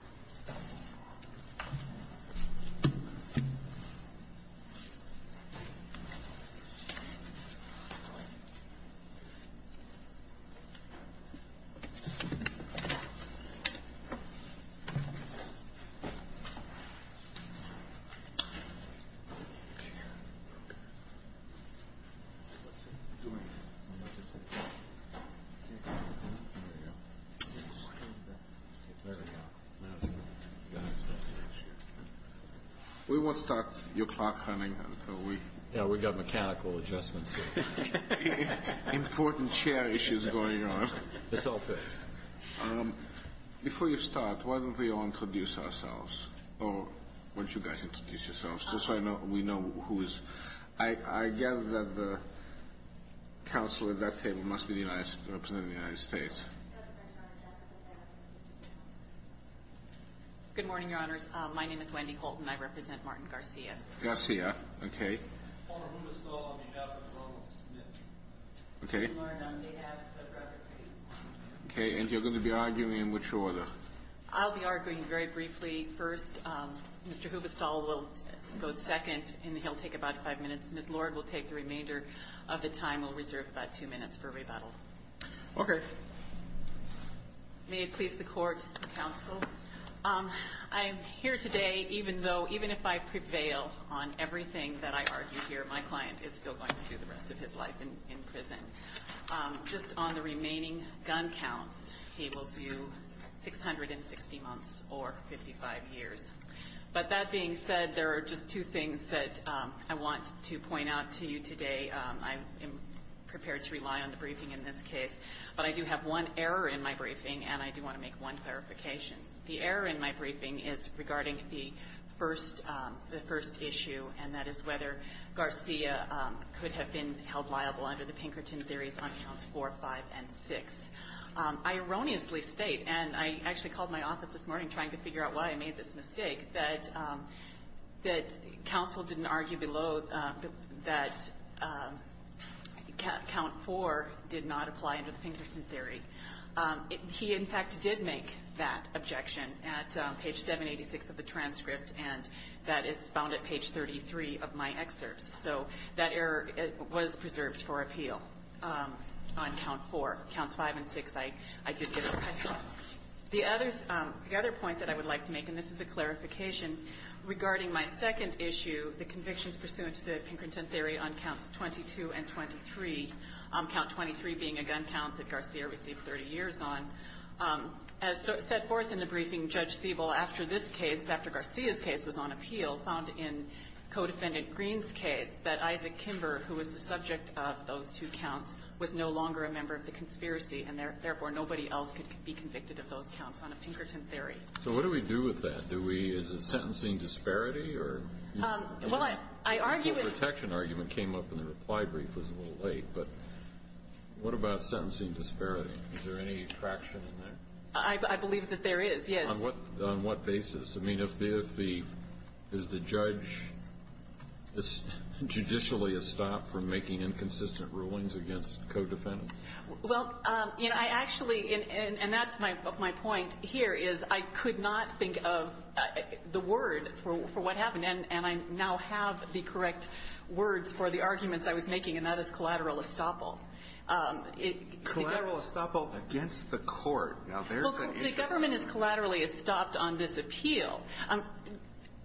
Yeah. Okay. What's it doing? I'm about to say, hey, there we go. That's good. Oh, I'm sorry. That's good. That's good. Yeah. That's good. That's good. That's good. That's good. That's good. That's good. We won't start your clock running until we... Yeah, we got mechanical adjustments here. Important chair issues going on. It's all fixed. Before you start, why don't we all introduce ourselves? Or, why don't you guys introduce yourselves, just so we know who's... I gather that the counselor at that table must be the representative of the United States. Good morning, Your Honors. Good morning, Your Honors. My name is Wendy Holton. I represent Martin Garcia. Garcia. Okay. Okay. Okay. And you're going to be arguing in which order? I'll be arguing very briefly first. Mr. Hubestall will go second, and he'll take about five minutes. Ms. Lord will take the remainder of the time. Thank you. Thank you. Thank you. Thank you. Thank you. Thank you. Thank you. Thank you. Thank you. Thank you. Thank you. May it please the Court and Counsel, I am here today, even though... even if I prevail on everything that I argue here, my client is still going to do the rest of his life in prison. Just on the remaining gun counts, he will do 660 months or 55 years. But that being said, there are just two things that I want to point out to you today. I am prepared to rely on the briefing in this case. But I do have one error in my briefing, and I do want to make one clarification. The error in my briefing is regarding the first issue, and that is whether Garcia could have been held liable under the Pinkerton theories on counts 4, 5, and 6. I erroneously state, and I actually called my office this morning trying to figure out why I made this mistake, that counsel didn't argue below that count 4 did not apply under the Pinkerton theory. He, in fact, did make that objection at page 786 of the transcript, and that is found at page 33 of my excerpts. So that error was preserved for appeal on count 4. Counts 5 and 6, I did get. Okay. The other point that I would like to make, and this is a clarification, regarding my second issue, the convictions pursuant to the Pinkerton theory on counts 22 and 23, count 23 being a gun count that Garcia received 30 years on, as set forth in the briefing, Judge Siebel, after this case, after Garcia's case was on appeal, found in Codefendant Green's case that Isaac Kimber, who was the subject of those two counts, was no longer a member of the conspiracy, and, therefore, nobody else could be convicted of those counts on a Pinkerton theory. So what do we do with that? Do we, is it sentencing disparity, or? Well, I argue that the protection argument came up in the reply brief. It was a little late, but what about sentencing disparity? Is there any traction in there? I believe that there is, yes. On what basis? I mean, if the, is the judge judicially estopped from making inconsistent rulings against codefendants? Well, you know, I actually, and that's my point here, is I could not think of the word for what happened, and I now have the correct words for the arguments I was making, and that is collateral estoppel. Collateral estoppel against the court. Now, there's an interest.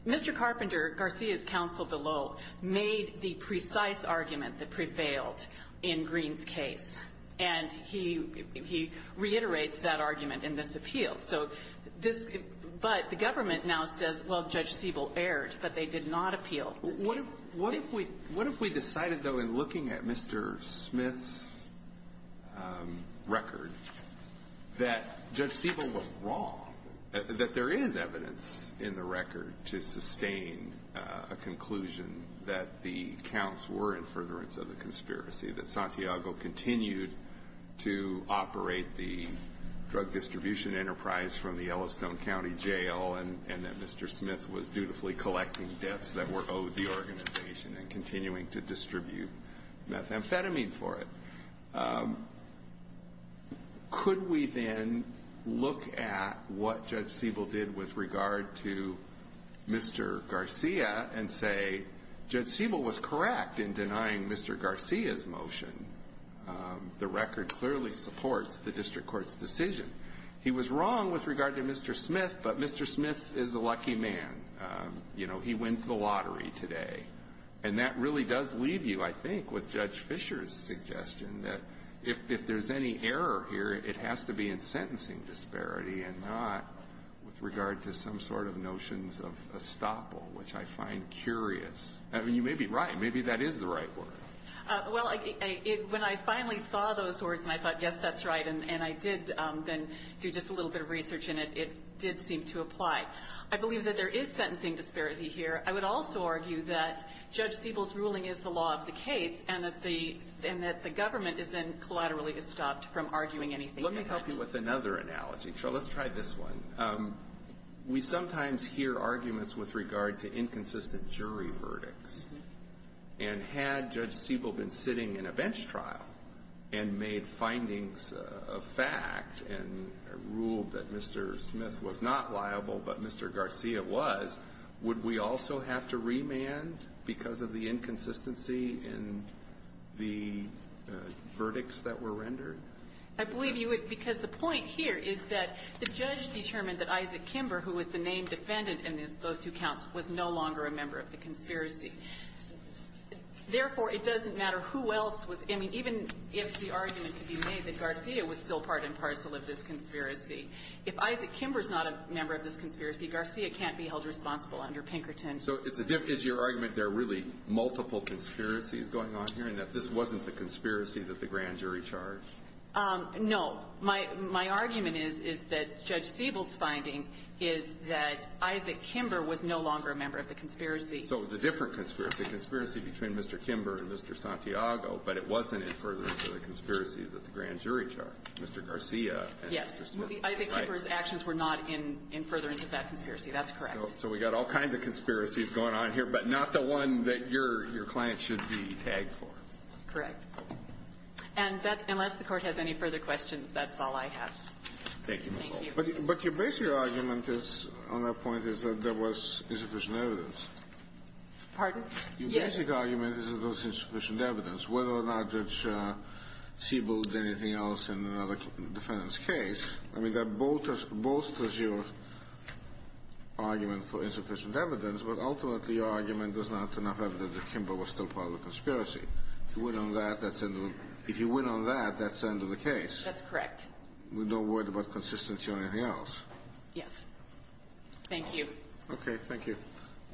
Mr. Carpenter, Garcia's counsel below, made the precise argument that prevailed in Green's case, and he reiterates that argument in this appeal. So this, but the government now says, well, Judge Siebel erred, but they did not appeal. What if we decided, though, in looking at Mr. Smith's record, that Judge Siebel was wrong, that there is evidence in the record to sustain a conclusion that the counts were in furtherance of the conspiracy, that Santiago continued to operate the drug distribution enterprise from the Yellowstone County Jail, and that Mr. Smith was dutifully collecting debts that were owed the organization and continuing to distribute methamphetamine for it. Could we then look at what Judge Siebel did with regard to Mr. Garcia and say, Judge Siebel was correct in denying Mr. Garcia's motion. The record clearly supports the district court's decision. He was wrong with regard to Mr. Smith, but Mr. Smith is a lucky man. You know, he wins the lottery today, and that really does leave you, I think, with Judge Fischer's suggestion that if there's any error here, it has to be in sentencing disparity and not with regard to some sort of notions of estoppel, which I find curious. I mean, you may be right. Maybe that is the right word. Well, when I finally saw those words and I thought, yes, that's right, and I did then do just a little bit of research, and it did seem to apply. I believe that there is sentencing disparity here. I would also argue that Judge Siebel's ruling is the law of the case and that the government is then collaterally estopped from arguing anything about it. Let me help you with another analogy. Let's try this one. We sometimes hear arguments with regard to inconsistent jury verdicts. And had Judge Siebel been sitting in a bench trial and made findings of fact and ruled that Mr. Smith was not liable, but Mr. Garcia was, would we also have to remand because of the inconsistency in the verdicts that were rendered? I believe you would, because the point here is that the judge determined that Isaac Kimber, who was the named defendant in those two counts, was no longer a member of the conspiracy. Therefore, it doesn't matter who else was. I mean, even if the argument could be made that Garcia was still part and parcel of this conspiracy, if Isaac Kimber is not a member of this conspiracy, Garcia can't be held responsible under Pinkerton. So is your argument there are really multiple conspiracies going on here and that this wasn't the conspiracy that the grand jury charged? No. My argument is, is that Judge Siebel's finding is that Isaac Kimber was no longer a member of the conspiracy. So it was a different conspiracy, a conspiracy between Mr. Kimber and Mr. Santiago, but it wasn't in furtherance of the conspiracy that the grand jury charged. Mr. Garcia and Mr. Smith. Yes. Isaac Kimber's actions were not in furtherance of that conspiracy. That's correct. So we got all kinds of conspiracies going on here, but not the one that your client should be tagged for. Correct. And that's unless the Court has any further questions, that's all I have. Thank you. Thank you. But your basic argument is, on that point, is that there was insufficient evidence. Pardon? Yes. Your basic argument is that there was insufficient evidence, whether or not Judge Siebel did anything else in another defendant's case. I mean, that bolsters your argument for insufficient evidence, but ultimately your argument does not have enough evidence that Kimber was still part of the conspiracy. If you win on that, that's the end of the case. That's correct. With no word about consistency or anything else. Yes. Thank you. Okay. Thank you.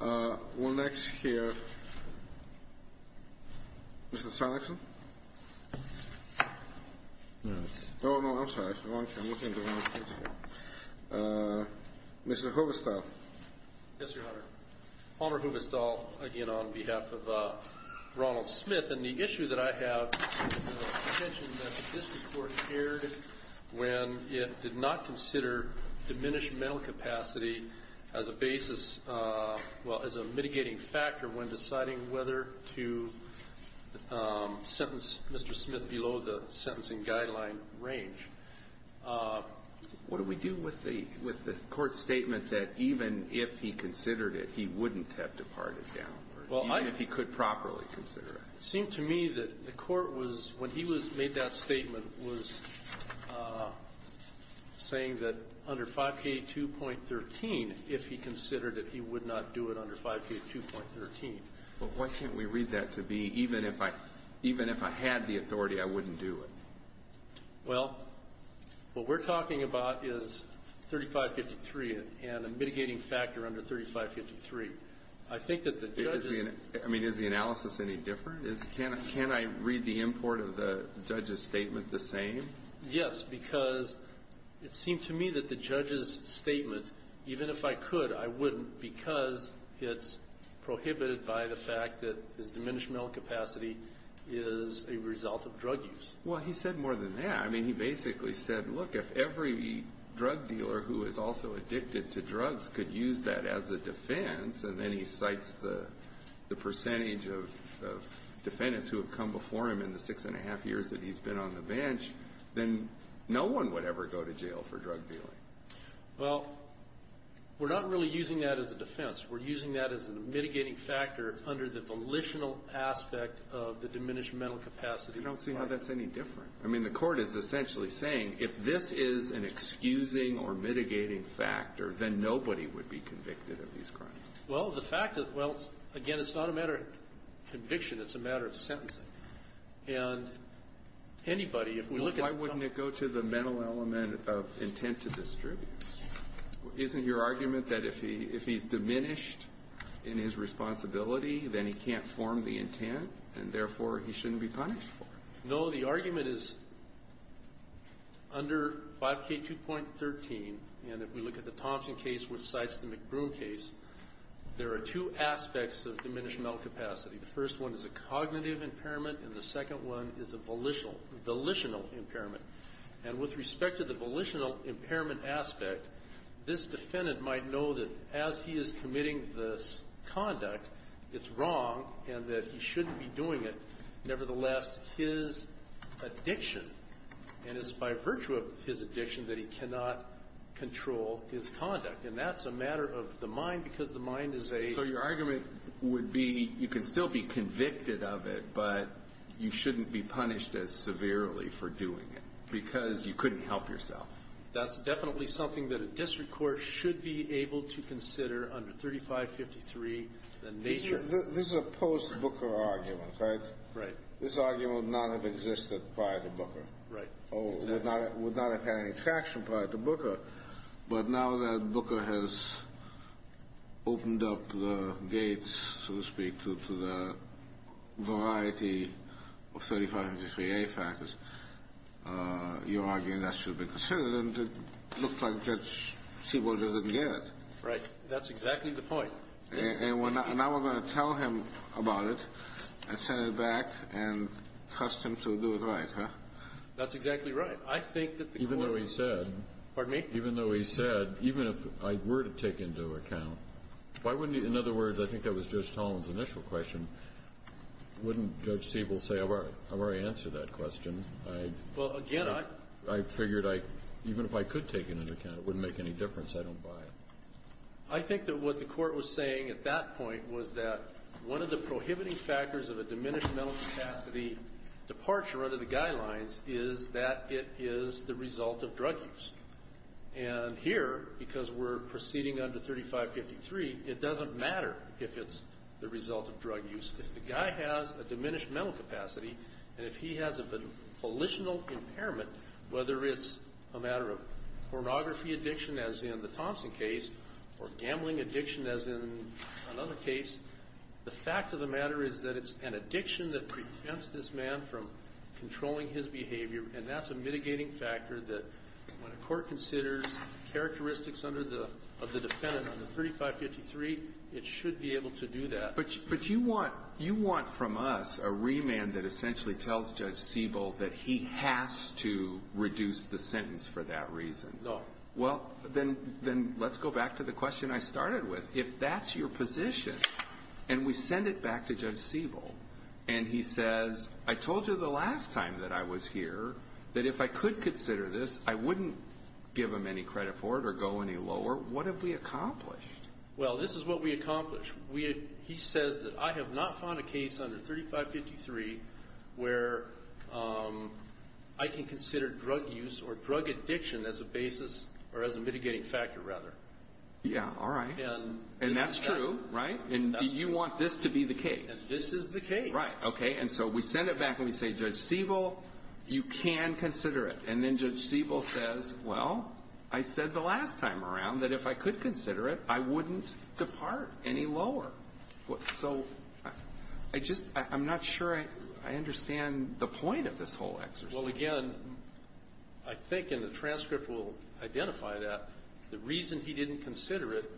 We'll next hear Mr. Sonicson. Oh, no. I'm sorry. I'm looking at the wrong page here. Mr. Hubestall. Yes, Your Honor. Palmer Hubestall, again, on behalf of Ronald Smith. And the issue that I have is the contention that this Court heard when it did not consider diminished mental capacity as a basis, well, as a mitigating factor when deciding whether to sentence Mr. Smith below the sentencing guideline range. What do we do with the Court's statement that even if he considered it, he wouldn't have departed down the road, even if he could properly consider it? It seemed to me that the Court was, when he made that statement, was saying that under 5K2.13, if he considered it, he would not do it under 5K2.13. Well, why shouldn't we read that to be, even if I had the authority, I wouldn't do it? Well, what we're talking about is 3553 and a mitigating factor under 3553. I mean, is the analysis any different? Can I read the import of the judge's statement the same? Yes, because it seemed to me that the judge's statement, even if I could, I wouldn't because it's prohibited by the fact that his diminished mental capacity is a result of drug use. Well, he said more than that. I mean, he basically said, look, if every drug dealer who is also addicted to drugs could use that as a defense, and then he cites the percentage of defendants who have come before him in the six and a half years that he's been on the bench, then no one would ever go to jail for drug dealing. Well, we're not really using that as a defense. We're using that as a mitigating factor under the volitional aspect of the diminished mental capacity. I don't see how that's any different. I mean, the Court is essentially saying, if this is an excusing or mitigating factor, then nobody would be convicted of these crimes. Well, the fact is, well, again, it's not a matter of conviction. It's a matter of sentencing. And anybody, if we look at the ---- Why wouldn't it go to the mental element of intent to distribute? Isn't your argument that if he's diminished in his responsibility, then he can't form the intent, and therefore, he shouldn't be punished for it? No. The argument is under 5K2.13, and if we look at the Thompson case which cites the McBroom case, there are two aspects of diminished mental capacity. The first one is a cognitive impairment, and the second one is a volitional impairment. And with respect to the volitional impairment aspect, this defendant might know that as he is committing this conduct, it's wrong, and that he shouldn't be doing it, but nevertheless, his addiction, and it's by virtue of his addiction, that he cannot control his conduct. And that's a matter of the mind, because the mind is a ---- So your argument would be you can still be convicted of it, but you shouldn't be punished as severely for doing it because you couldn't help yourself. That's definitely something that a district court should be able to consider under 3553. This is a post-Booker argument, right? Right. This argument would not have existed prior to Booker. Right. It would not have had any traction prior to Booker. But now that Booker has opened up the gates, so to speak, to the variety of 3553A factors, your argument that should be considered, and it looks like Judge Seaborg doesn't get it. Right. That's exactly the point. And now we're going to tell him about it and send it back and trust him to do it right, huh? That's exactly right. I think that the court ---- Even though he said ---- Pardon me? Even though he said, even if I were to take into account, why wouldn't he ---- In other words, I think that was Judge Tolan's initial question. Wouldn't Judge Seaborg say, I've already answered that question? Well, again, I ---- I figured I ---- even if I could take it into account, it wouldn't make any difference. I don't buy it. I think that what the court was saying at that point was that one of the prohibiting factors of a diminished mental capacity departure under the guidelines is that it is the result of drug use. And here, because we're proceeding under 3553, it doesn't matter if it's the result of drug use. If the guy has a diminished mental capacity and if he has a volitional impairment, whether it's a matter of pornography addiction, as in the Thompson case, or gambling addiction, as in another case, the fact of the matter is that it's an addiction that prevents this man from controlling his behavior. And that's a mitigating factor that when a court considers characteristics under the ---- of the defendant under 3553, it should be able to do that. But you want from us a remand that essentially tells Judge Siebel that he has to reduce the sentence for that reason. No. Well, then let's go back to the question I started with. If that's your position and we send it back to Judge Siebel and he says, I told you the last time that I was here that if I could consider this, I wouldn't give him any credit for it or go any lower, what have we accomplished? Well, this is what we accomplished. He says that I have not found a case under 3553 where I can consider drug use or drug addiction as a basis or as a mitigating factor, rather. Yeah. All right. And that's true, right? And you want this to be the case. This is the case. Right. Okay. And so we send it back and we say, Judge Siebel, you can consider it. And then Judge Siebel says, well, I said the last time around that if I could consider it, I wouldn't depart any lower. So I just am not sure I understand the point of this whole exercise. Well, again, I think in the transcript we'll identify that the reason he didn't consider it,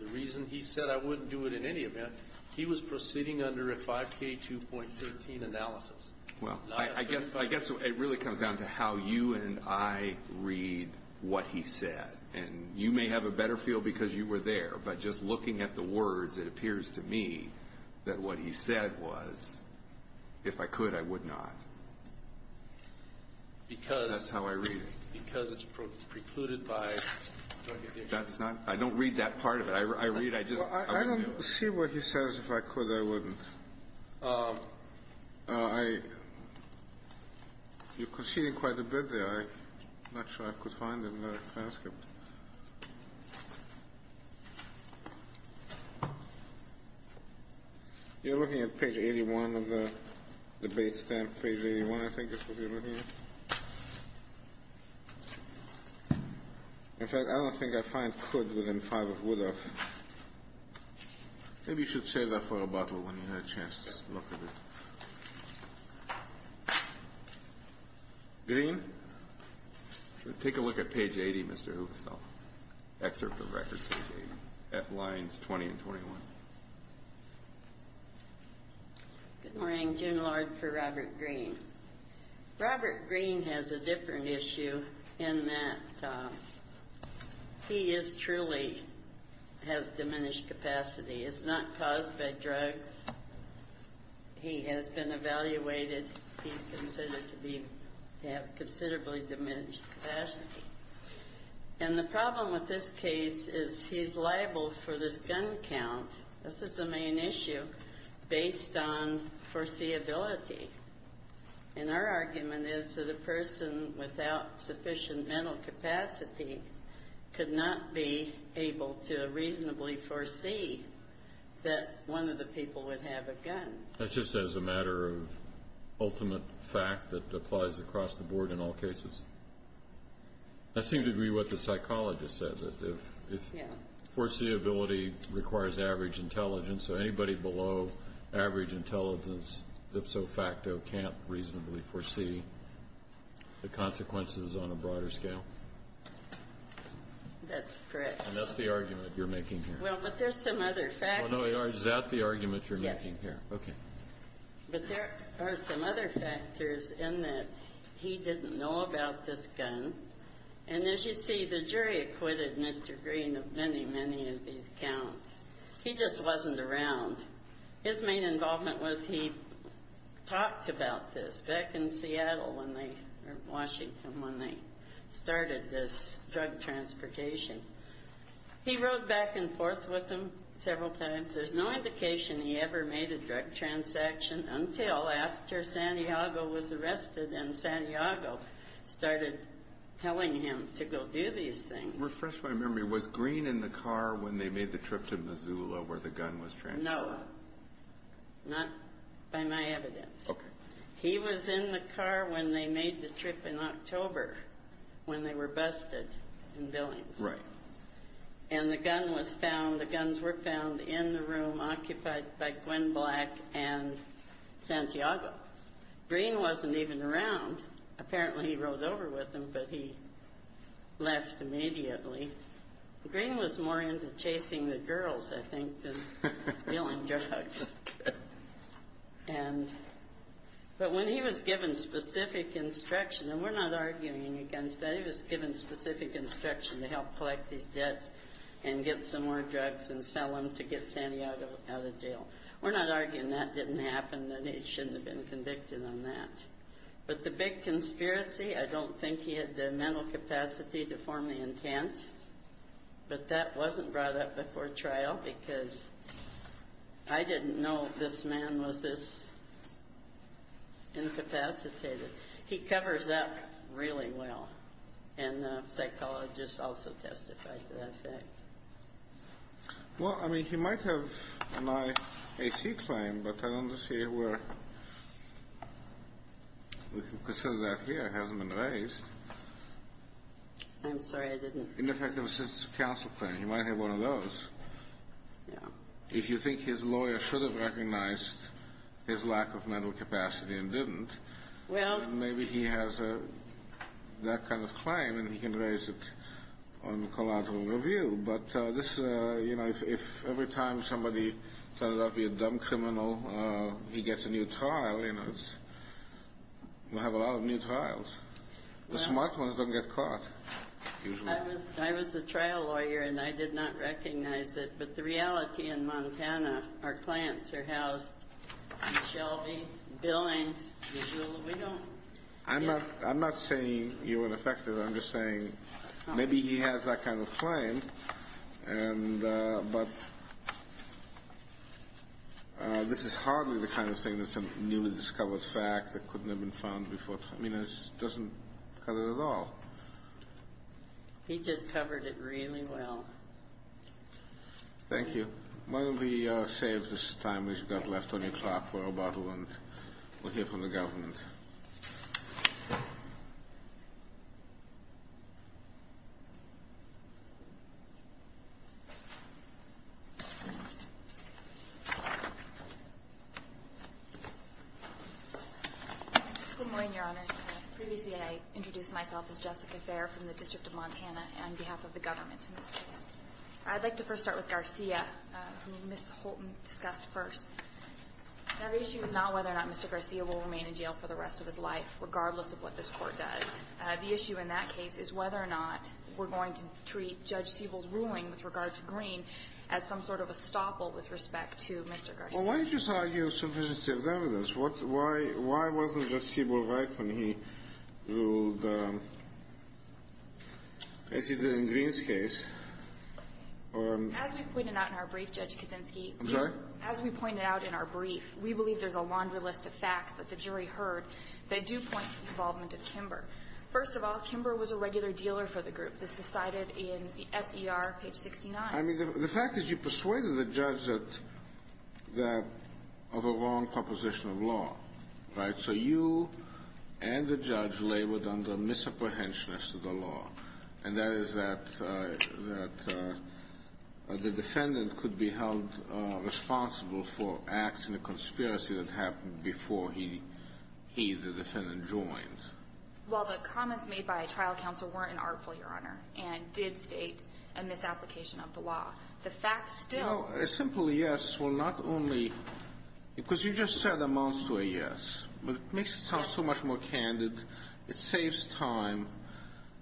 the reason he said I wouldn't do it in any event, he was proceeding under a 5K2.13 analysis. Well, I guess it really comes down to how you and I read what he said. And you may have a better feel because you were there. But just looking at the words, it appears to me that what he said was, if I could, I would not. That's how I read it. Because it's precluded by drug addiction. I don't read that part of it. I read, I just. I don't see what he says, if I could, I wouldn't. You're conceding quite a bit there. I'm not sure I could find it in the transcript. You're looking at page 81 of the bait stamp, page 81, I think this is what you're looking at. In fact, I don't think I find could within five of would have. Maybe you should save that for a bottle when you have a chance to look at it. Green. Take a look at page 80, Mr. Hoekstal. Excerpt of record page 80. At lines 20 and 21. Good morning. June Lord for Robert Green. Robert Green has a different issue in that he is truly has diminished capacity. It's not caused by drugs. He has been evaluated. He's considered to have considerably diminished capacity. And the problem with this case is he's liable for this gun count. This is the main issue based on foreseeability. And our argument is that a person without sufficient mental capacity could not be able to reasonably foresee that one of the people would have a gun. That's just as a matter of ultimate fact that applies across the board in all cases. That seemed to be what the psychologist said, that if foreseeability requires average intelligence, so anybody below average intelligence, ipso facto, can't reasonably foresee the consequences on a broader scale. That's correct. And that's the argument you're making here. Well, but there's some other factors. Is that the argument you're making here? Yes. Okay. But there are some other factors in that he didn't know about this gun. And, as you see, the jury acquitted Mr. Green of many, many of these counts. He just wasn't around. His main involvement was he talked about this back in Seattle when they, or Washington, when they started this drug transportation. He rode back and forth with them several times. There's no indication he ever made a drug transaction until after Santiago was arrested and Santiago started telling him to go do these things. Refresh my memory. Was Green in the car when they made the trip to Missoula where the gun was transported? No. Not by my evidence. Okay. He was in the car when they made the trip in October when they were busted in Billings. Right. And the gun was found, the guns were found in the room occupied by Gwen Black and Santiago. Green wasn't even around. Apparently he rode over with them, but he left immediately. Green was more into chasing the girls, I think, than dealing drugs. Okay. And, but when he was given specific instruction, and we're not arguing against that, but when he was given specific instruction to help collect these debts and get some more drugs and sell them to get Santiago out of jail, we're not arguing that didn't happen, that he shouldn't have been convicted on that. But the big conspiracy, I don't think he had the mental capacity to form the intent, but that wasn't brought up before trial because I didn't know this man was this incapacitated. He covers that really well, and the psychologist also testified to that fact. Well, I mean, he might have an IAC claim, but I don't see where we can consider that here. It hasn't been raised. I'm sorry, I didn't. In effect, it was his counsel claim. He might have one of those. Yeah. If you think his lawyer should have recognized his lack of mental capacity and didn't. Well. Maybe he has that kind of claim, and he can raise it on collateral review. But this, you know, if every time somebody turns out to be a dumb criminal, he gets a new trial, you know, we have a lot of new trials. The smart ones don't get caught. I was a trial lawyer, and I did not recognize it, but the reality in Montana, our clients are housed in Shelby, Billings, Missoula. We don't. I'm not saying you're ineffective. I'm just saying maybe he has that kind of claim, but this is hardly the kind of thing that's a newly discovered fact that couldn't have been found before. I mean, it doesn't cover it at all. He just covered it really well. Thank you. Why don't we save this time we've got left on your clock for about a moment. We'll hear from the government. Good morning, Your Honors. Previously, I introduced myself as Jessica Fair from the District of Montana, on behalf of the government in this case. I'd like to first start with Garcia, who Ms. Holton discussed first. Now, the issue is not whether or not Mr. Garcia will remain in jail for the rest of his life, regardless of what this Court does. The issue in that case is whether or not we're going to treat Judge Siebel's ruling with regard to Green as some sort of estoppel with respect to Mr. Garcia. Well, why don't you just argue subjective evidence? Why wasn't Judge Siebel right when he ruled, as he did in Green's case? As we pointed out in our brief, Judge Kaczynski — I'm sorry? As we pointed out in our brief, we believe there's a laundry list of facts that the jury heard that do point to the involvement of Kimber. First of all, Kimber was a regular dealer for the group. This is cited in the SER, page 69. I mean, the fact is you persuaded the judge of a wrong proposition of law, right? So you and the judge labored under misapprehension as to the law, and that is that the defendant could be held responsible for acts in a conspiracy that happened before he, the defendant, joined. Well, the comments made by trial counsel weren't an artful, Your Honor, and did state a misapplication of the law. The facts still— Well, a simple yes will not only—because you just said amounts to a yes, but it makes it sound so much more candid. It saves time.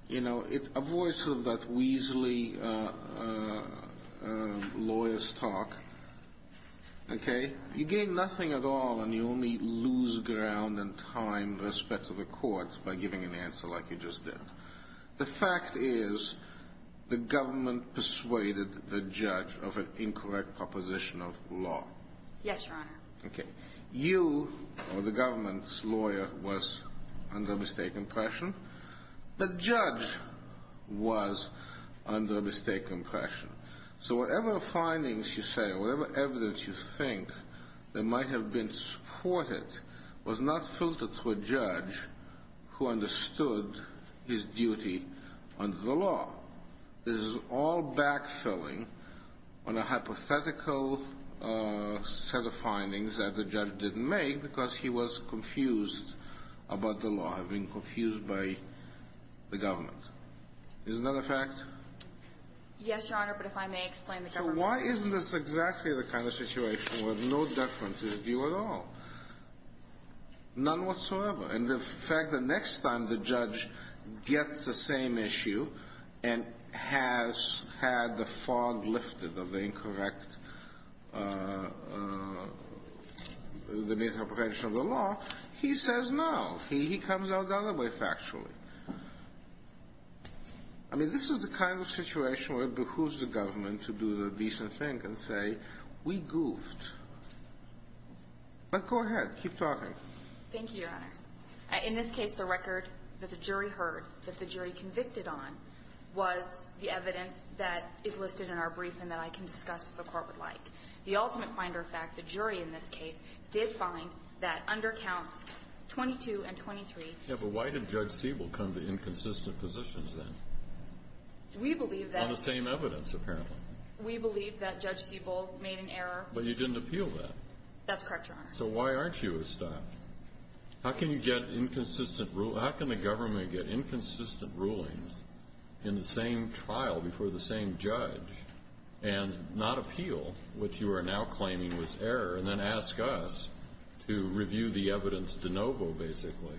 You know, it avoids sort of that weaselly lawyer's talk. Okay? You gain nothing at all, and you only lose ground in time with respect to the courts by giving an answer like you just did. The fact is the government persuaded the judge of an incorrect proposition of law. Yes, Your Honor. Okay. You, or the government's lawyer, was under a mistaken impression. The judge was under a mistaken impression. So whatever findings you say or whatever evidence you think that might have been supported was not filtered through a judge who understood his duty under the law. This is all backfilling on a hypothetical set of findings that the judge didn't make because he was confused about the law, being confused by the government. Isn't that a fact? Yes, Your Honor, but if I may explain the government— Why isn't this exactly the kind of situation where no deference is due at all? None whatsoever. And the fact that next time the judge gets the same issue and has had the fog lifted of the incorrect, the misapprehension of the law, he says no. He comes out the other way factually. I mean, this is the kind of situation where it behooves the government to do the decent thing and say, we goofed. But go ahead. Keep talking. Thank you, Your Honor. In this case, the record that the jury heard, that the jury convicted on, was the evidence that is listed in our briefing that I can discuss if the Court would like. The ultimate finder fact, the jury in this case, did find that under counts 22 and 23— Yeah, but why did Judge Siebel come to inconsistent positions then? We believe that— On the same evidence, apparently. We believe that Judge Siebel made an error. But you didn't appeal that. That's correct, Your Honor. So why aren't you a stop? How can you get inconsistent—how can the government get inconsistent rulings in the same trial before the same judge and not appeal what you are now claiming was error and then ask us to review the evidence de novo, basically,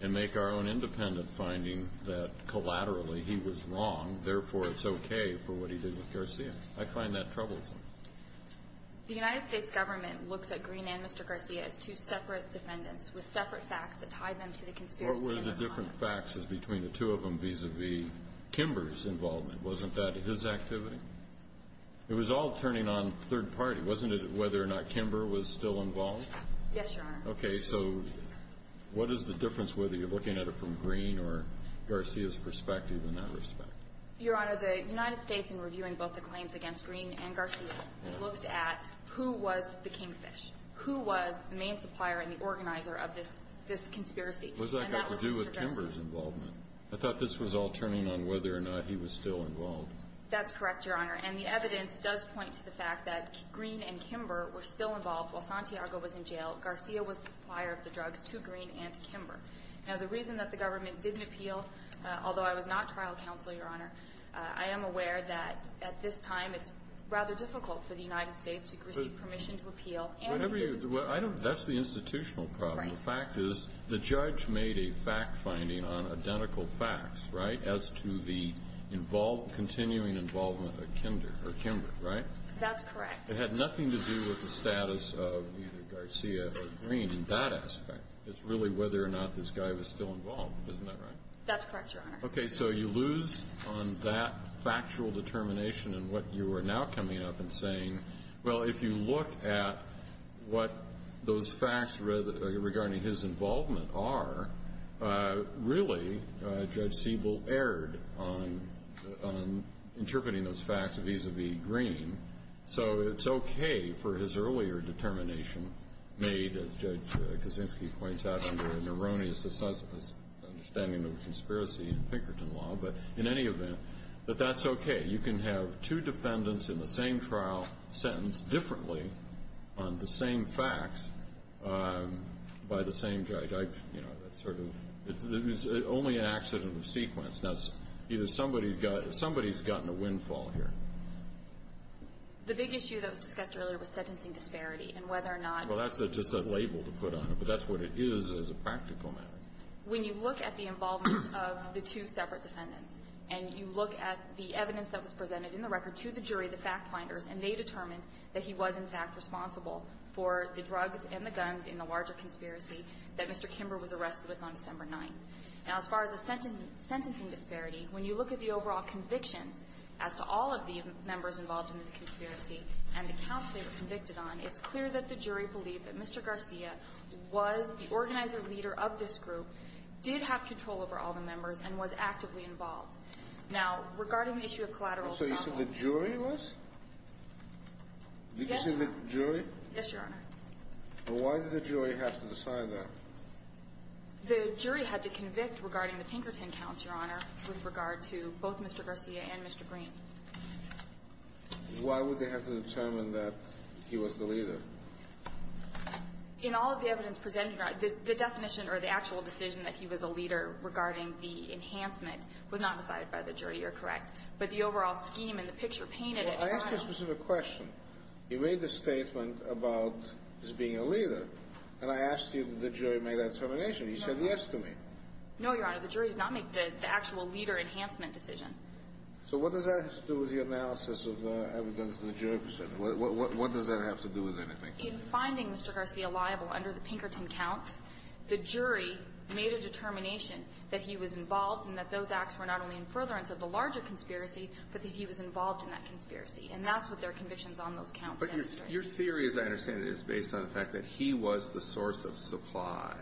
and make our own independent finding that, collaterally, he was wrong, therefore it's okay for what he did with Garcia? I find that troublesome. The United States government looks at Green and Mr. Garcia as two separate defendants with separate facts that tie them to the conspiracy in their mind. What were the different facts between the two of them vis-à-vis Kimber's involvement? Wasn't that his activity? It was all turning on third party. Wasn't it whether or not Kimber was still involved? Yes, Your Honor. Okay. So what is the difference, whether you're looking at it from Green or Garcia's perspective in that respect? Your Honor, the United States, in reviewing both the claims against Green and Garcia, looked at who was the kingfish, who was the main supplier and the organizer of this conspiracy. Was that got to do with Kimber's involvement? I thought this was all turning on whether or not he was still involved. That's correct, Your Honor. And the evidence does point to the fact that Green and Kimber were still involved while Santiago was in jail. Garcia was the supplier of the drugs to Green and to Kimber. Now, the reason that the government didn't appeal, although I was not trial counsel, Your Honor, I am aware that at this time it's rather difficult for the United States to receive permission to appeal and we didn't. That's the institutional problem. Right. The fact is the judge made a fact finding on identical facts, right, as to the continuing involvement of Kimber, right? That's correct. It had nothing to do with the status of either Garcia or Green in that aspect. It's really whether or not this guy was still involved. Isn't that right? That's correct, Your Honor. Okay. So you lose on that factual determination and what you are now coming up and saying, well, if you look at what those facts regarding his involvement are, really, Judge Kaczynski is interpreting those facts vis-à-vis Green, so it's okay for his earlier determination made, as Judge Kaczynski points out, under an erroneous understanding of conspiracy in Pinkerton law, but in any event, that that's okay. You can have two defendants in the same trial sentenced differently on the same facts by the same judge. I, you know, that's sort of, it's only an accident of sequence. Now, either somebody's got, somebody's gotten a windfall here. The big issue that was discussed earlier was sentencing disparity and whether or not – Well, that's just a label to put on it, but that's what it is as a practical matter. When you look at the involvement of the two separate defendants and you look at the evidence that was presented in the record to the jury, the fact-finders, and they determined that he was, in fact, responsible for the drugs and the guns in the larger conspiracy that Mr. Kimber was arrested with on December 9th. Now, as far as the sentencing disparity, when you look at the overall convictions as to all of the members involved in this conspiracy and the counts they were convicted on, it's clear that the jury believed that Mr. Garcia was the organizer leader of this group, did have control over all the members, and was actively involved. Now, regarding the issue of collateral assault – So you said the jury was? Yes. Did you say the jury? Yes, Your Honor. Well, why did the jury have to decide that? The jury had to convict regarding the Pinkerton counts, Your Honor, with regard to both Mr. Garcia and Mr. Green. Why would they have to determine that he was the leader? In all of the evidence presented, Your Honor, the definition or the actual decision that he was a leader regarding the enhancement was not decided by the jury. You're correct. But the overall scheme and the picture painted at trial – Well, I asked you a specific question. You made the statement about his being a leader, and I asked you if the jury made that determination. You said yes to me. No, Your Honor. The jury did not make the actual leader enhancement decision. So what does that have to do with the analysis of the evidence that the jury presented? What does that have to do with anything? In finding Mr. Garcia liable under the Pinkerton counts, the jury made a determination that he was involved and that those acts were not only in furtherance of the larger conspiracy, but that he was involved in that conspiracy. And that's what their conditions on those counts demonstrate. But your theory, as I understand it, is based on the fact that he was the source of supply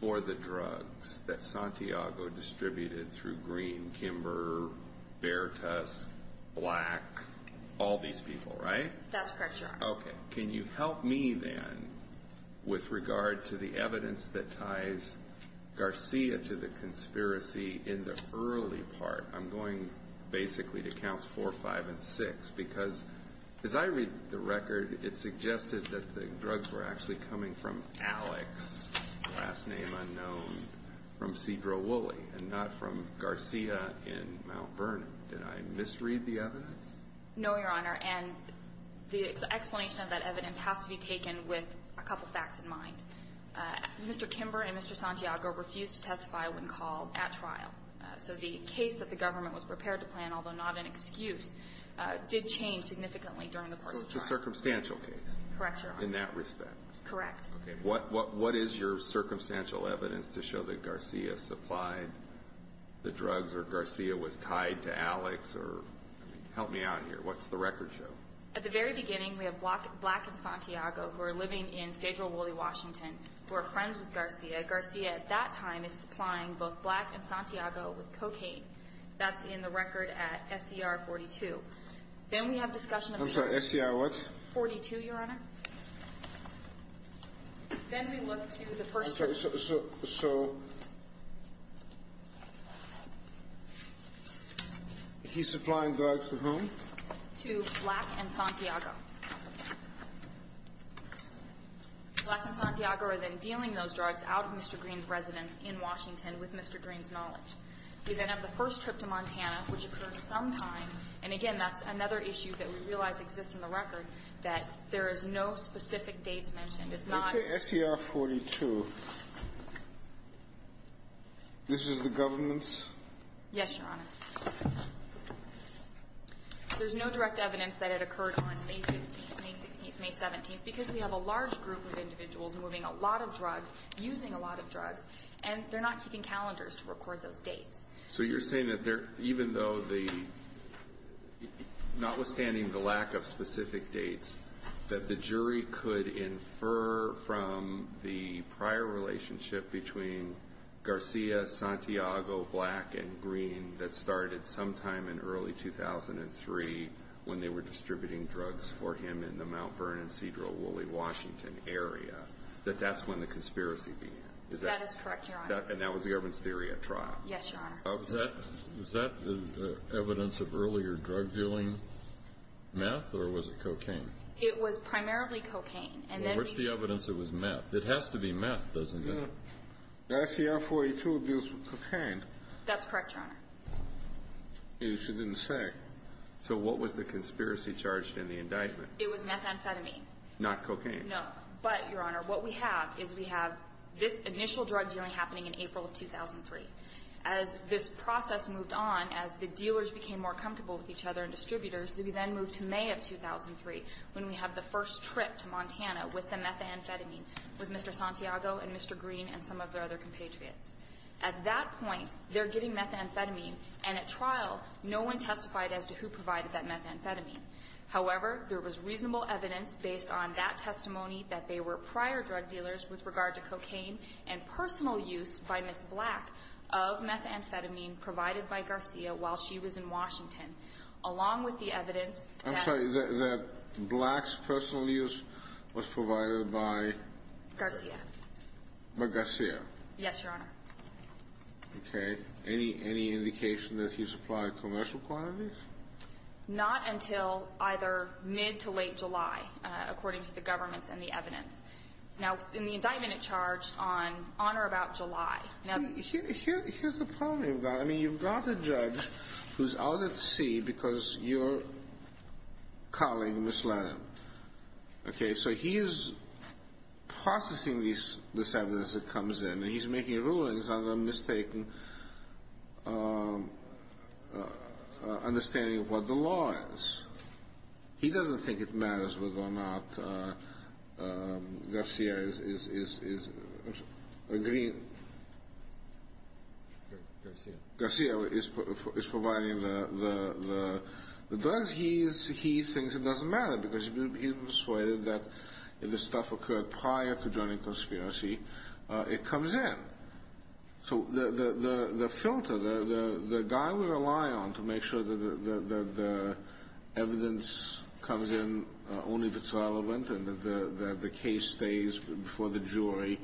for the drugs that Santiago distributed through Green, Kimber, Bertus, Black, all these people, right? That's correct, Your Honor. Okay. Can you help me then with regard to the evidence that ties Garcia to the conspiracy in the early part? I'm going basically to counts four, five, and six, because as I read the record, it suggested that the drugs were actually coming from Alex, last name unknown, from Sidra Woolley and not from Garcia in Mount Vernon. Did I misread the evidence? No, Your Honor. And the explanation of that evidence has to be taken with a couple facts in mind. Mr. Kimber and Mr. Santiago refused to testify when called at trial. So the case that the government was prepared to plan, although not an excuse, did change significantly during the course of trial. So it's a circumstantial case. Correct, Your Honor. In that respect. Correct. Okay. What is your circumstantial evidence to show that Garcia supplied the drugs or Garcia was tied to Alex? Help me out here. What's the record show? At the very beginning, we have Black and Santiago, who are living in Sidra Woolley, Washington, who are friends with Garcia. Garcia at that time is supplying both Black and Santiago with cocaine. That's in the record at SCR 42. Then we have discussion of the evidence. I'm sorry, SCR what? 42, Your Honor. Then we look to the first drug. So he's supplying drugs to whom? To Black and Santiago. Black and Santiago are then dealing those drugs out of Mr. Green's residence in Washington with Mr. Green's knowledge. We then have the first trip to Montana, which occurred sometime, and again, that's another issue that we realize exists in the record, that there is no specific dates mentioned. It's not ---- You say SCR 42. This is the government's? Yes, Your Honor. There's no direct evidence that it occurred on May 15th, May 16th, May 17th, because we have a large group of individuals moving a lot of drugs, using a lot of drugs, and they're not keeping calendars to record those dates. So you're saying that even though the, notwithstanding the lack of specific dates, that the jury could infer from the prior relationship between Garcia, Santiago, Black, and Green that started sometime in early 2003 when they were distributing drugs for him in the Mount Vernon, Cedro, Woolley, Washington area, that that's when the conspiracy began? That is correct, Your Honor. And that was the government's theory at trial? Yes, Your Honor. Was that evidence of earlier drug dealing, meth, or was it cocaine? It was primarily cocaine. Well, where's the evidence it was meth? It has to be meth, doesn't it? Garcia, 42, deals with cocaine. That's correct, Your Honor. Yes, you didn't say. So what was the conspiracy charged in the indictment? It was methamphetamine. Not cocaine? No. But, Your Honor, what we have is we have this initial drug dealing happening in April of 2003. As this process moved on, as the dealers became more comfortable with each other and distributors, we then moved to May of 2003 when we had the first trip to Montana with the methamphetamine with Mr. Santiago and Mr. Green and some of their other compatriots. At that point, they're getting methamphetamine, and at trial, no one testified as to who provided that methamphetamine. However, there was reasonable evidence based on that testimony that they were prior drug dealers with regard to cocaine and personal use by Ms. Black of methamphetamine provided by Garcia while she was in Washington, along with the evidence that ---- Yes, Your Honor. Okay. Any indication that he supplied commercial quantities? Not until either mid to late July, according to the governments and the evidence. Now, in the indictment it charged on or about July. Here's the problem with that. I mean, you've got a judge who's out at sea because you're calling Ms. Lannan. Okay. So he is processing this evidence that comes in, and he's making rulings under a mistaken understanding of what the law is. He doesn't think it matters whether or not Garcia is agreeing. Garcia? Garcia is providing the drugs. But he thinks it doesn't matter because he's persuaded that if the stuff occurred prior to joining conspiracy, it comes in. So the filter, the guy we rely on to make sure that the evidence comes in only if it's relevant and that the case stays before the jury,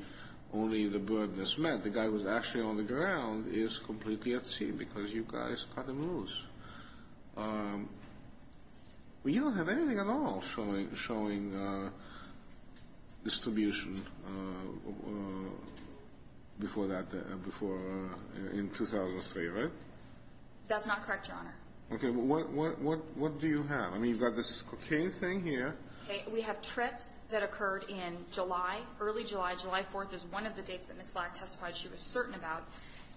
only the burden is met. The guy who's actually on the ground is completely at sea because you guys cut him loose. You don't have anything at all showing distribution before that, in 2003, right? That's not correct, Your Honor. Okay. What do you have? I mean, you've got this cocaine thing here. We have trips that occurred in July, early July. July 4th is one of the dates that Ms. Black testified she was certain about.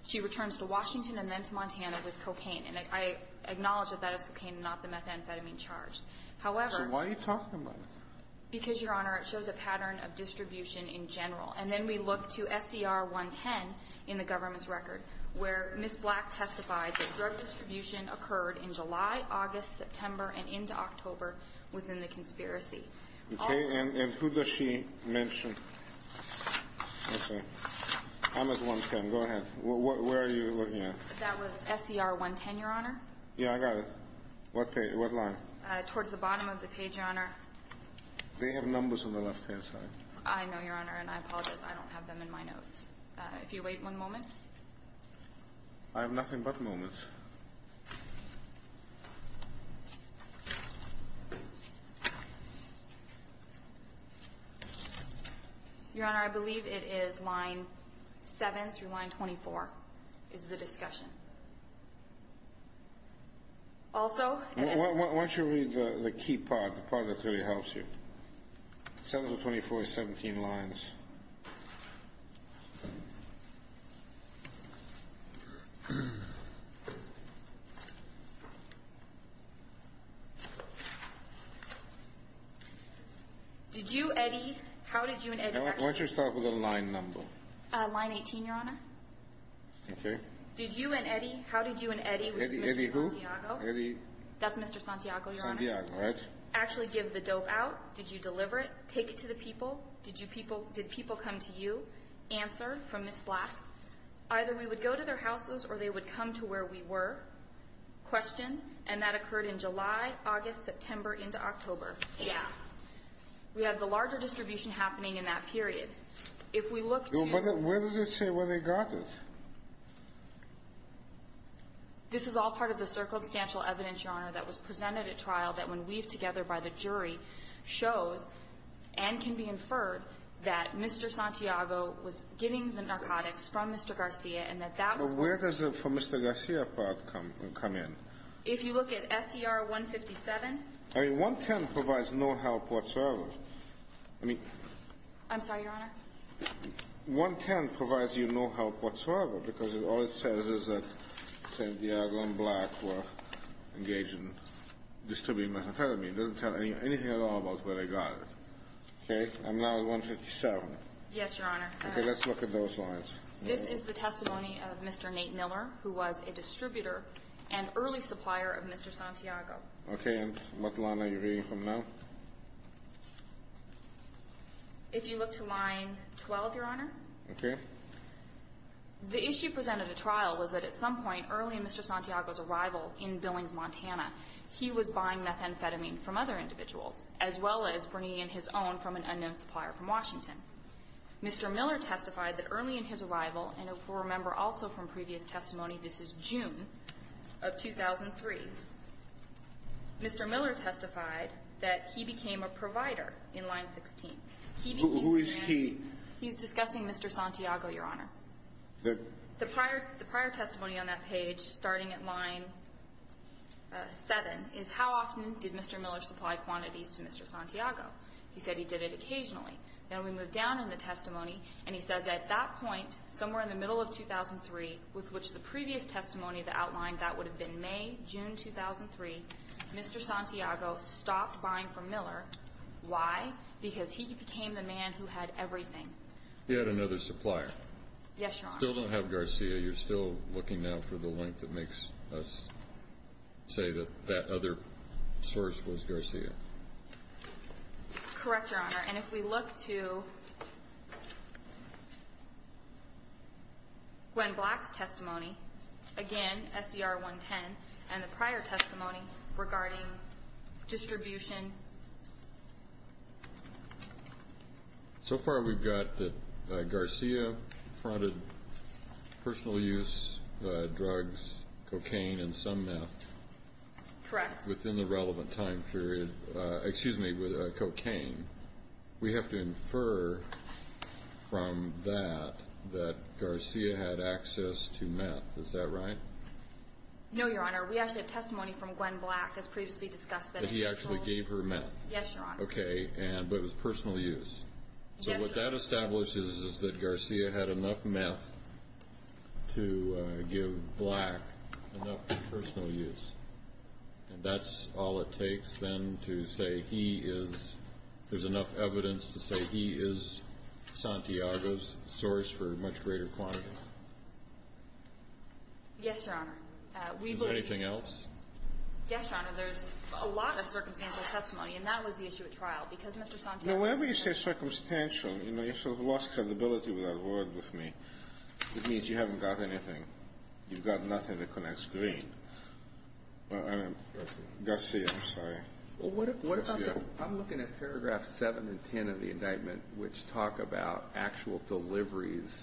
She returns to Washington and then to Montana with cocaine. And I acknowledge that that is cocaine and not the methamphetamine charge. However — So why are you talking about it? Because, Your Honor, it shows a pattern of distribution in general. And then we look to SCR 110 in the government's record, where Ms. Black testified that drug distribution occurred in July, August, September, and into October within the conspiracy. Okay. And who does she mention? Okay. I'm at 110. Go ahead. Where are you looking at? That was SCR 110, Your Honor. Yeah, I got it. What page? What line? Towards the bottom of the page, Your Honor. They have numbers on the left-hand side. I know, Your Honor, and I apologize. I don't have them in my notes. If you wait one moment. I have nothing but moments. Your Honor, I believe it is line 7 through line 24 is the discussion. Also — Why don't you read the key part, the part that really helps you? 7 to 24 is 17 lines. Did you, Eddie — how did you and Eddie — Why don't you start with the line number? Line 18, Your Honor. Okay. Did you and Eddie — how did you and Eddie — Eddie who? Eddie. That's Mr. Santiago, Your Honor. Santiago, right. Actually give the dope out? Did you deliver it? Take it to the people? Did you people — did people come to you? Answer from Ms. Black. Either we would go to their houses or they would come to where we were. Question. And that occurred in July, August, September, into October. Yeah. We have the larger distribution happening in that period. If we look to — Where does it say where they got this? This is all part of the circumstantial evidence, Your Honor, that was presented at trial that, when weaved together by the jury, shows and can be inferred that Mr. Santiago was getting the narcotics from Mr. Garcia and that that was — But where does the — from Mr. Garcia part come in? If you look at SCR-157 — I mean, 110 provides no help whatsoever. I mean — I'm sorry, Your Honor? 110 provides you no help whatsoever because all it says is that Santiago and Black were engaged in distributing methamphetamine. It doesn't tell anything at all about where they got it. Okay? I'm now at 157. Yes, Your Honor. Okay. Let's look at those lines. This is the testimony of Mr. Nate Miller, who was a distributor and early supplier of Mr. Santiago. Okay. And what line are you reading from now? If you look to line 12, Your Honor. Okay. The issue presented at trial was that at some point early in Mr. Santiago's arrival in Billings, Montana, he was buying methamphetamine from other individuals, as well as bringing in his own from an unknown supplier from Washington. Mr. Miller testified that early in his arrival, and if we'll remember also from previous testimony, this is June of 2003, Mr. Miller testified that he became a provider in line 16. Who is he? He's discussing Mr. Santiago, Your Honor. The prior testimony on that page, starting at line 7, is how often did Mr. Miller supply quantities to Mr. Santiago. He said he did it occasionally. Now, we move down in the testimony, and he says at that point, somewhere in the middle of 2003, with which the previous testimony that outlined that would have been May, June 2003, Mr. Santiago stopped buying from Miller. Why? Because he became the man who had everything. He had another supplier. Yes, Your Honor. Still don't have Garcia. You're still looking now for the link that makes us say that that other source was Garcia. Correct, Your Honor. And if we look to Gwen Black's testimony, again, SCR 110, and the prior testimony regarding distribution. So far we've got that Garcia fronted personal use drugs, cocaine, and some meth. Correct. Within the relevant time period, excuse me, with cocaine, we have to infer from that that Garcia had access to meth. Is that right? No, Your Honor. We actually have testimony from Gwen Black, as previously discussed, that he actually gave her meth. Yes, Your Honor. Okay. But it was personal use. So what that establishes is that Garcia had enough meth to give Black enough for personal use. And that's all it takes, then, to say he is – there's enough evidence to say he is Santiago's source for much greater quantity. Yes, Your Honor. Is there anything else? Yes, Your Honor. There's a lot of circumstantial testimony, and that was the issue at trial. Because Mr. Santiago – Now, whenever you say circumstantial, you know, you've sort of lost credibility of that word with me. It means you haven't got anything. You've got nothing that connects green. Garcia, I'm sorry. Well, what about the – I'm looking at paragraphs 7 and 10 of the indictment, which talk about actual deliveries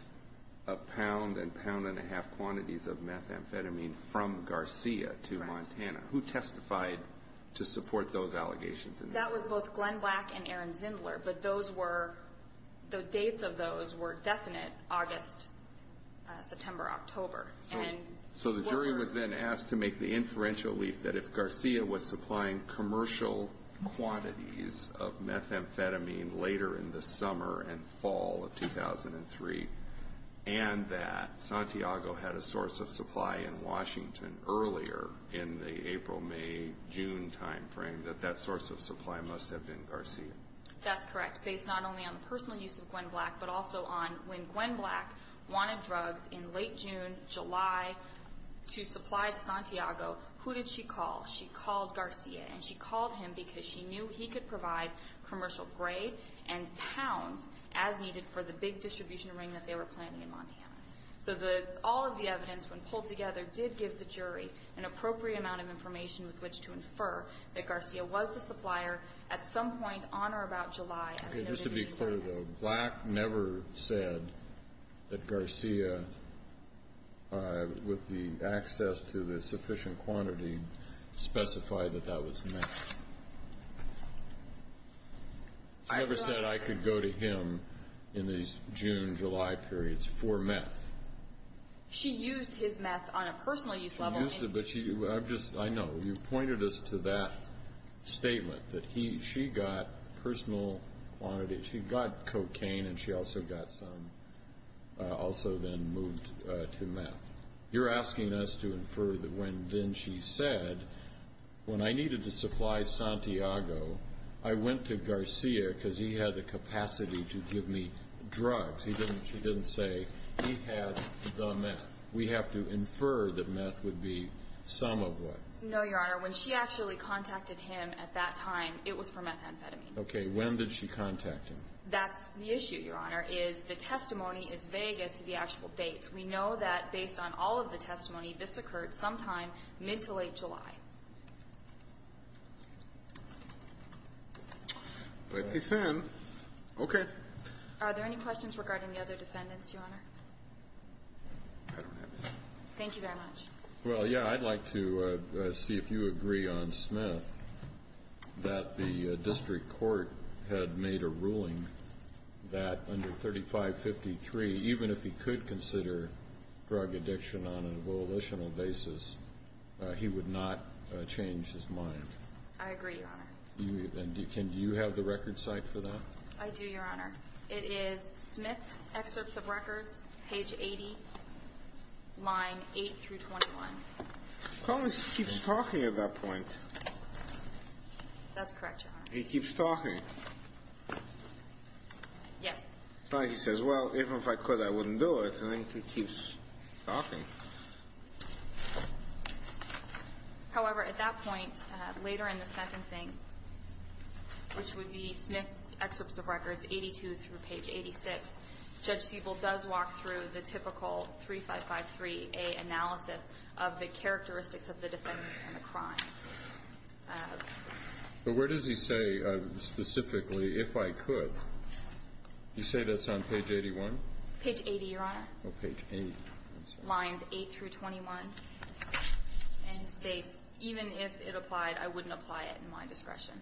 of pound and pound-and-a-half quantities of methamphetamine from Garcia to Montana. Who testified to support those allegations? That was both Gwen Black and Aaron Zindler. But those were – the dates of those were definite, August, September, October. So the jury was then asked to make the inferential leaf that if Garcia was supplying commercial quantities of methamphetamine later in the summer and fall of 2003, and that Santiago had a source of supply in Washington earlier in the April, May, June timeframe, that that source of supply must have been Garcia. That's correct. And that's based not only on the personal use of Gwen Black, but also on when Gwen Black wanted drugs in late June, July, to supply to Santiago. Who did she call? She called Garcia, and she called him because she knew he could provide commercial gray and pounds as needed for the big distribution ring that they were planning in Montana. So the – all of the evidence, when pulled together, did give the jury an appropriate amount of information with which to infer that Garcia was the supplier at some point on or about July. Okay, just to be clear, though, Black never said that Garcia, with the access to the sufficient quantity, specified that that was meth. She never said, I could go to him in these June, July periods for meth. She used his meth on a personal use level. I know. You've pointed us to that statement, that she got personal quantities. She got cocaine, and she also got some, also then moved to meth. You're asking us to infer that when then she said, when I needed to supply Santiago, I went to Garcia because he had the capacity to give me drugs. She didn't say he had the meth. We have to infer that meth would be some of what? No, Your Honor. When she actually contacted him at that time, it was for methamphetamine. Okay. When did she contact him? That's the issue, Your Honor, is the testimony is vague as to the actual date. We know that, based on all of the testimony, this occurred sometime mid to late July. Let me send. Okay. Are there any questions regarding the other defendants, Your Honor? I don't have any. Thank you very much. Well, yeah, I'd like to see if you agree on Smith that the district court had made a ruling that under 3553, even if he could consider drug addiction on a volitional basis, he would not change his mind. I agree, Your Honor. And do you have the record cite for that? I do, Your Honor. It is Smith's excerpts of records, page 80, line 8 through 21. Collins keeps talking at that point. That's correct, Your Honor. He keeps talking. Yes. It's not like he says, well, even if I could, I wouldn't do it. I think he keeps talking. However, at that point, later in the sentencing, which would be Smith's excerpts of records, 82 through page 86, Judge Siebel does walk through the typical 3553A analysis of the characteristics of the defendant and the crime. But where does he say, specifically, if I could? You say that's on page 81? Page 80, Your Honor. Oh, page 8. Lines 8 through 21. And he states, even if it applied, I wouldn't apply it in my discretion.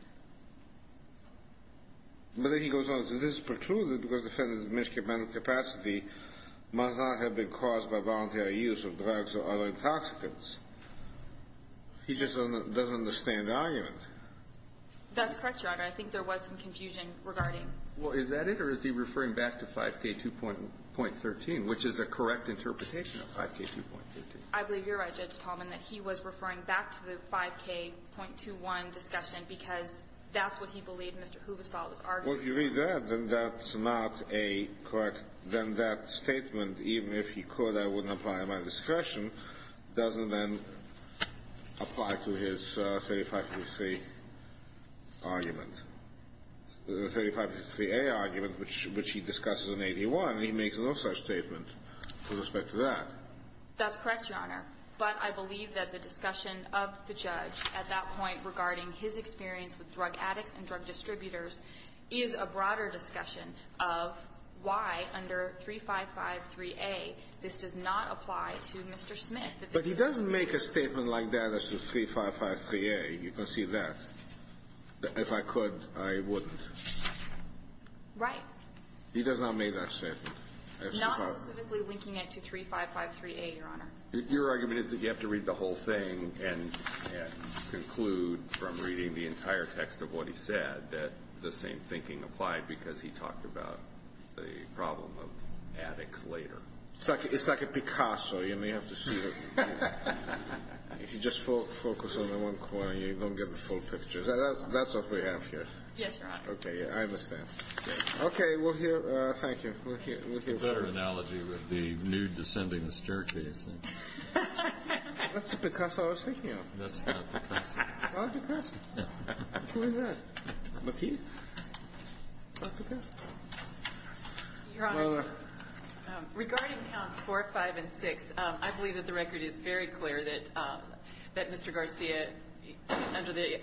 But then he goes on to say, this is precluded because the defendant's administrative capacity must not have been caused by voluntary use of drugs or other intoxicants. He just doesn't understand the argument. That's correct, Your Honor. I think there was some confusion regarding. Well, is that it? Or is he referring back to 5K2.13, which is a correct interpretation of 5K2.13? I believe you're right, Judge Tallman, that he was referring back to the 5K.21 discussion because that's what he believed Mr. Huvestal was arguing. Well, if you read that, then that's not a correct. Then that statement, even if he could, I wouldn't apply it in my discretion, doesn't then apply to his 3553 argument. The 3553A argument, which he discusses in 81, he makes no such statement with respect to that. That's correct, Your Honor. But I believe that the discussion of the judge at that point regarding his experience with drug addicts and drug distributors is a broader discussion of why under 3553A this does not apply to Mr. Smith. But he doesn't make a statement like that as to 3553A. You can see that. If I could, I wouldn't. Right. He does not make that statement. Not specifically linking it to 3553A, Your Honor. Your argument is that you have to read the whole thing and conclude from reading the entire text of what he said that the same thinking applied because he talked about the problem of addicts later. It's like a Picasso. You may have to see it. If you just focus on the one corner, you don't get the full picture. That's what we have here. Yes, Your Honor. Okay. I understand. Okay. We'll hear. Thank you. We'll hear. It's a better analogy with the nude descending the staircase. That's the Picasso I was thinking of. That's not Picasso. Not Picasso. Who is that? Matisse? Not Picasso. Your Honor, regarding counts 4, 5, and 6, I believe that the record is very clear that Mr. Garcia, under the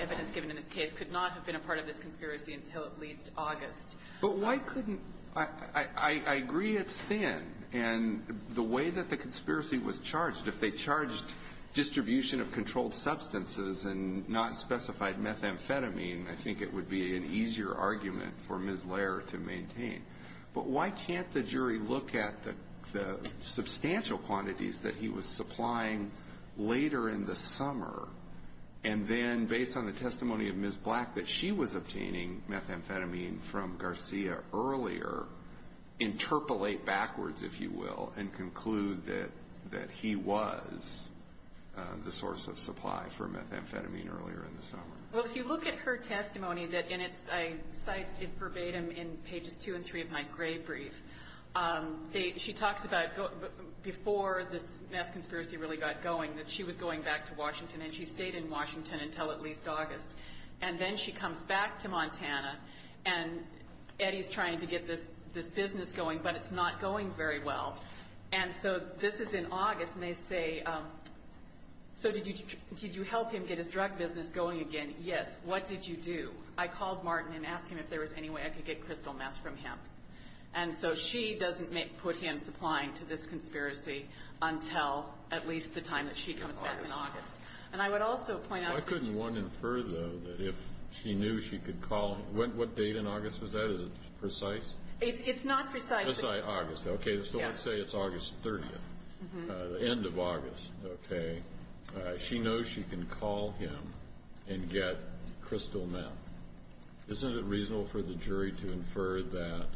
evidence given in this case, could not have been a part of this conspiracy until at least August. But why couldn't – I agree it's thin. And the way that the conspiracy was charged, if they charged distribution of controlled substances and not specified methamphetamine, I think it would be an easier argument for Ms. Lair to maintain. But why can't the jury look at the substantial quantities that he was supplying later in the summer and then, based on the testimony of Ms. Black, that she was obtaining methamphetamine from Garcia earlier, interpolate backwards, if you will, and conclude that he was the source of supply for methamphetamine earlier in the summer? Well, if you look at her testimony, and I cite it verbatim in pages 2 and 3 of my gray brief, she talks about before this meth conspiracy really got going, that she was going back to Washington, and she stayed in Washington until at least August. And then she comes back to Montana, and Eddie's trying to get this business going, but it's not going very well. And so this is in August, and they say, so did you help him get his drug business going again? Yes. What did you do? I called Martin and asked him if there was any way I could get crystal meth from him. And so she doesn't put him supplying to this conspiracy until at least the time that she comes back in August. And I would also point out that you I couldn't want to infer, though, that if she knew she could call him, what date in August was that? Is it precise? It's not precise. Just say August, okay? Yes. Just say it's August 30th, the end of August, okay? She knows she can call him and get crystal meth. Isn't it reasonable for the jury to infer that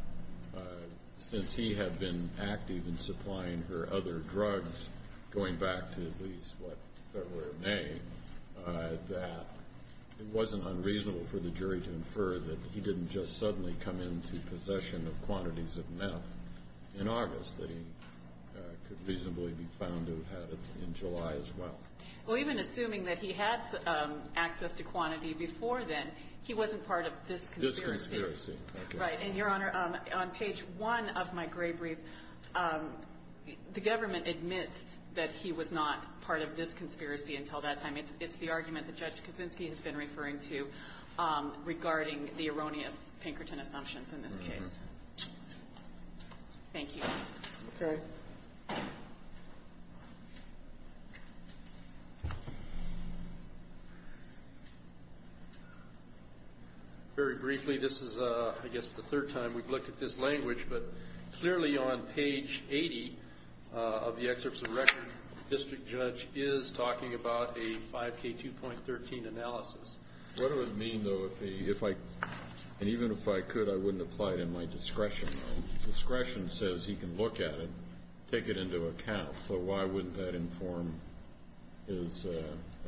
since he had been active in supplying her other drugs, going back to at least what February or May, that it wasn't unreasonable for the jury to infer that he didn't just suddenly come into possession of quantities of meth in August, that he could reasonably be found to have had it in July as well? Well, even assuming that he had access to quantity before then, he wasn't part of this conspiracy. This conspiracy, okay. Right. And, Your Honor, on page one of my gray brief, the government admits that he was not part of this conspiracy until that time. It's the argument that Judge Kuczynski has been referring to regarding the erroneous Pinkerton assumptions in this case. Thank you. Okay. Very briefly, this is, I guess, the third time we've looked at this language, but clearly on page 80 of the excerpts of record, the district judge is talking about a 5K2.13 analysis. What does it mean, though, if I, and even if I could, I wouldn't apply it in my discretion. Discretion says he can look at it, take it into account. So why wouldn't that inform his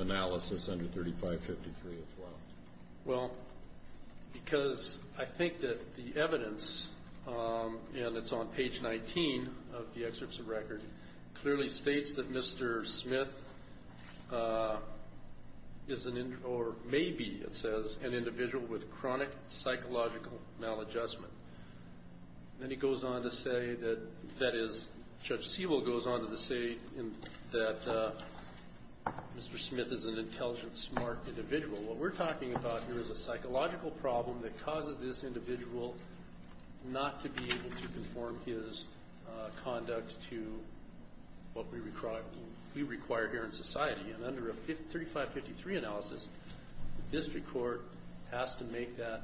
analysis under 3553 as well? Well, because I think that the evidence, and it's on page 19 of the excerpts of record, clearly states that Mr. Smith is an, or maybe, it says, an individual with chronic psychological maladjustment. Then he goes on to say that, that is, Judge Sewell goes on to say that Mr. Smith is an intelligent, smart individual. What we're talking about here is a psychological problem that causes this individual not to be able to conform his conduct to what we require here in society. And under a 3553 analysis, the district court has to make that.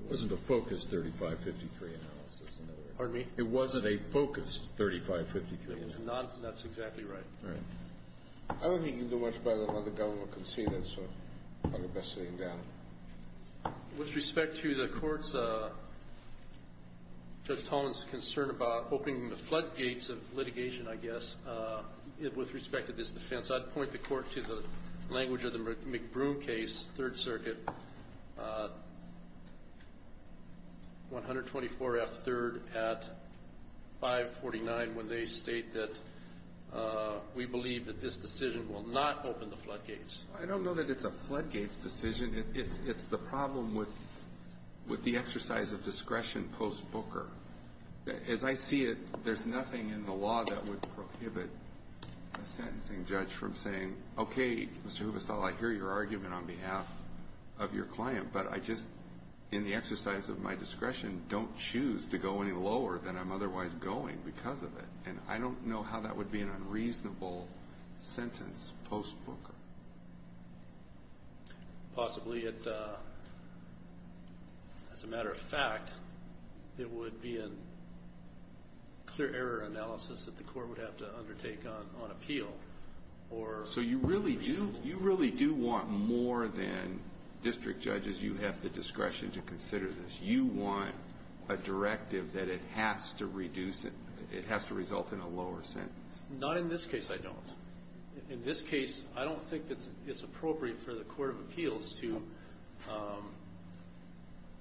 It wasn't a focused 3553 analysis, in other words. Pardon me? It wasn't a focused 3553 analysis. That's exactly right. All right. I don't think you can do much better than what the government conceded, so I'll leave that sitting down. With respect to the court's, Judge Tolman's, concern about opening the floodgates of litigation, I guess, with respect to this defense, I'd point the court to the language of the McBroom case, Third Circuit, 124F3rd at 549, when they state that we believe that this decision will not open the floodgates. I don't know that it's a floodgates decision. It's the problem with the exercise of discretion post-Booker. As I see it, there's nothing in the law that would prohibit a sentencing judge from saying, okay, Mr. Hubestall, I hear your argument on behalf of your client, but I just, in the exercise of my discretion, don't choose to go any lower than I'm otherwise going because of it. And I don't know how that would be an unreasonable sentence post-Booker. Possibly, as a matter of fact, it would be a clear error analysis that the court would have to undertake on appeal. So you really do want more than district judges, you have the discretion to consider this. Do you want a directive that it has to reduce it, it has to result in a lower sentence? Not in this case, I don't. In this case, I don't think it's appropriate for the court of appeals to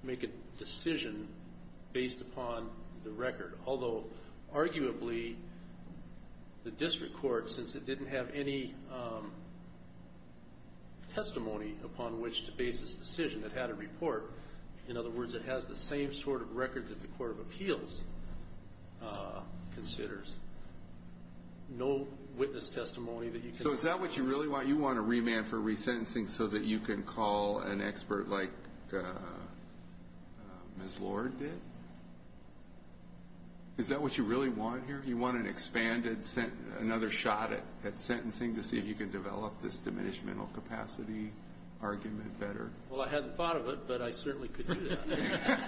make a decision based upon the record, although arguably the district court, since it didn't have any testimony upon which to base this decision, it had a report. In other words, it has the same sort of record that the court of appeals considers. No witness testimony that you can... So is that what you really want? You want a remand for resentencing so that you can call an expert like Ms. Lord did? Is that what you really want here? You want an expanded, another shot at sentencing to see if you can develop this diminished mental capacity argument better? Well, I hadn't thought of it, but I certainly could do that.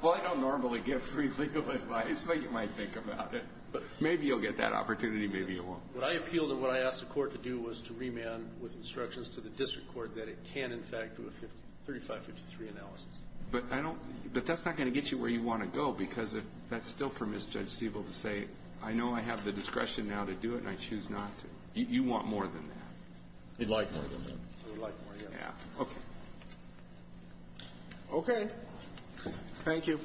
Well, I don't normally give free legal advice, but you might think about it. Maybe you'll get that opportunity, maybe you won't. What I appealed and what I asked the court to do was to remand with instructions to the district court that it can, in fact, do a 3553 analysis. But I don't – but that's not going to get you where you want to go, because that still permits Judge Stiebel to say, I know I have the discretion now to do it and I choose not to. You want more than that? We'd like more than that. We'd like more, yeah. Yeah. Okay. Okay. Thank you.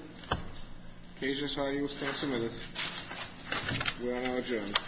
Agents, how are you? We'll start in a minute. We are now adjourned.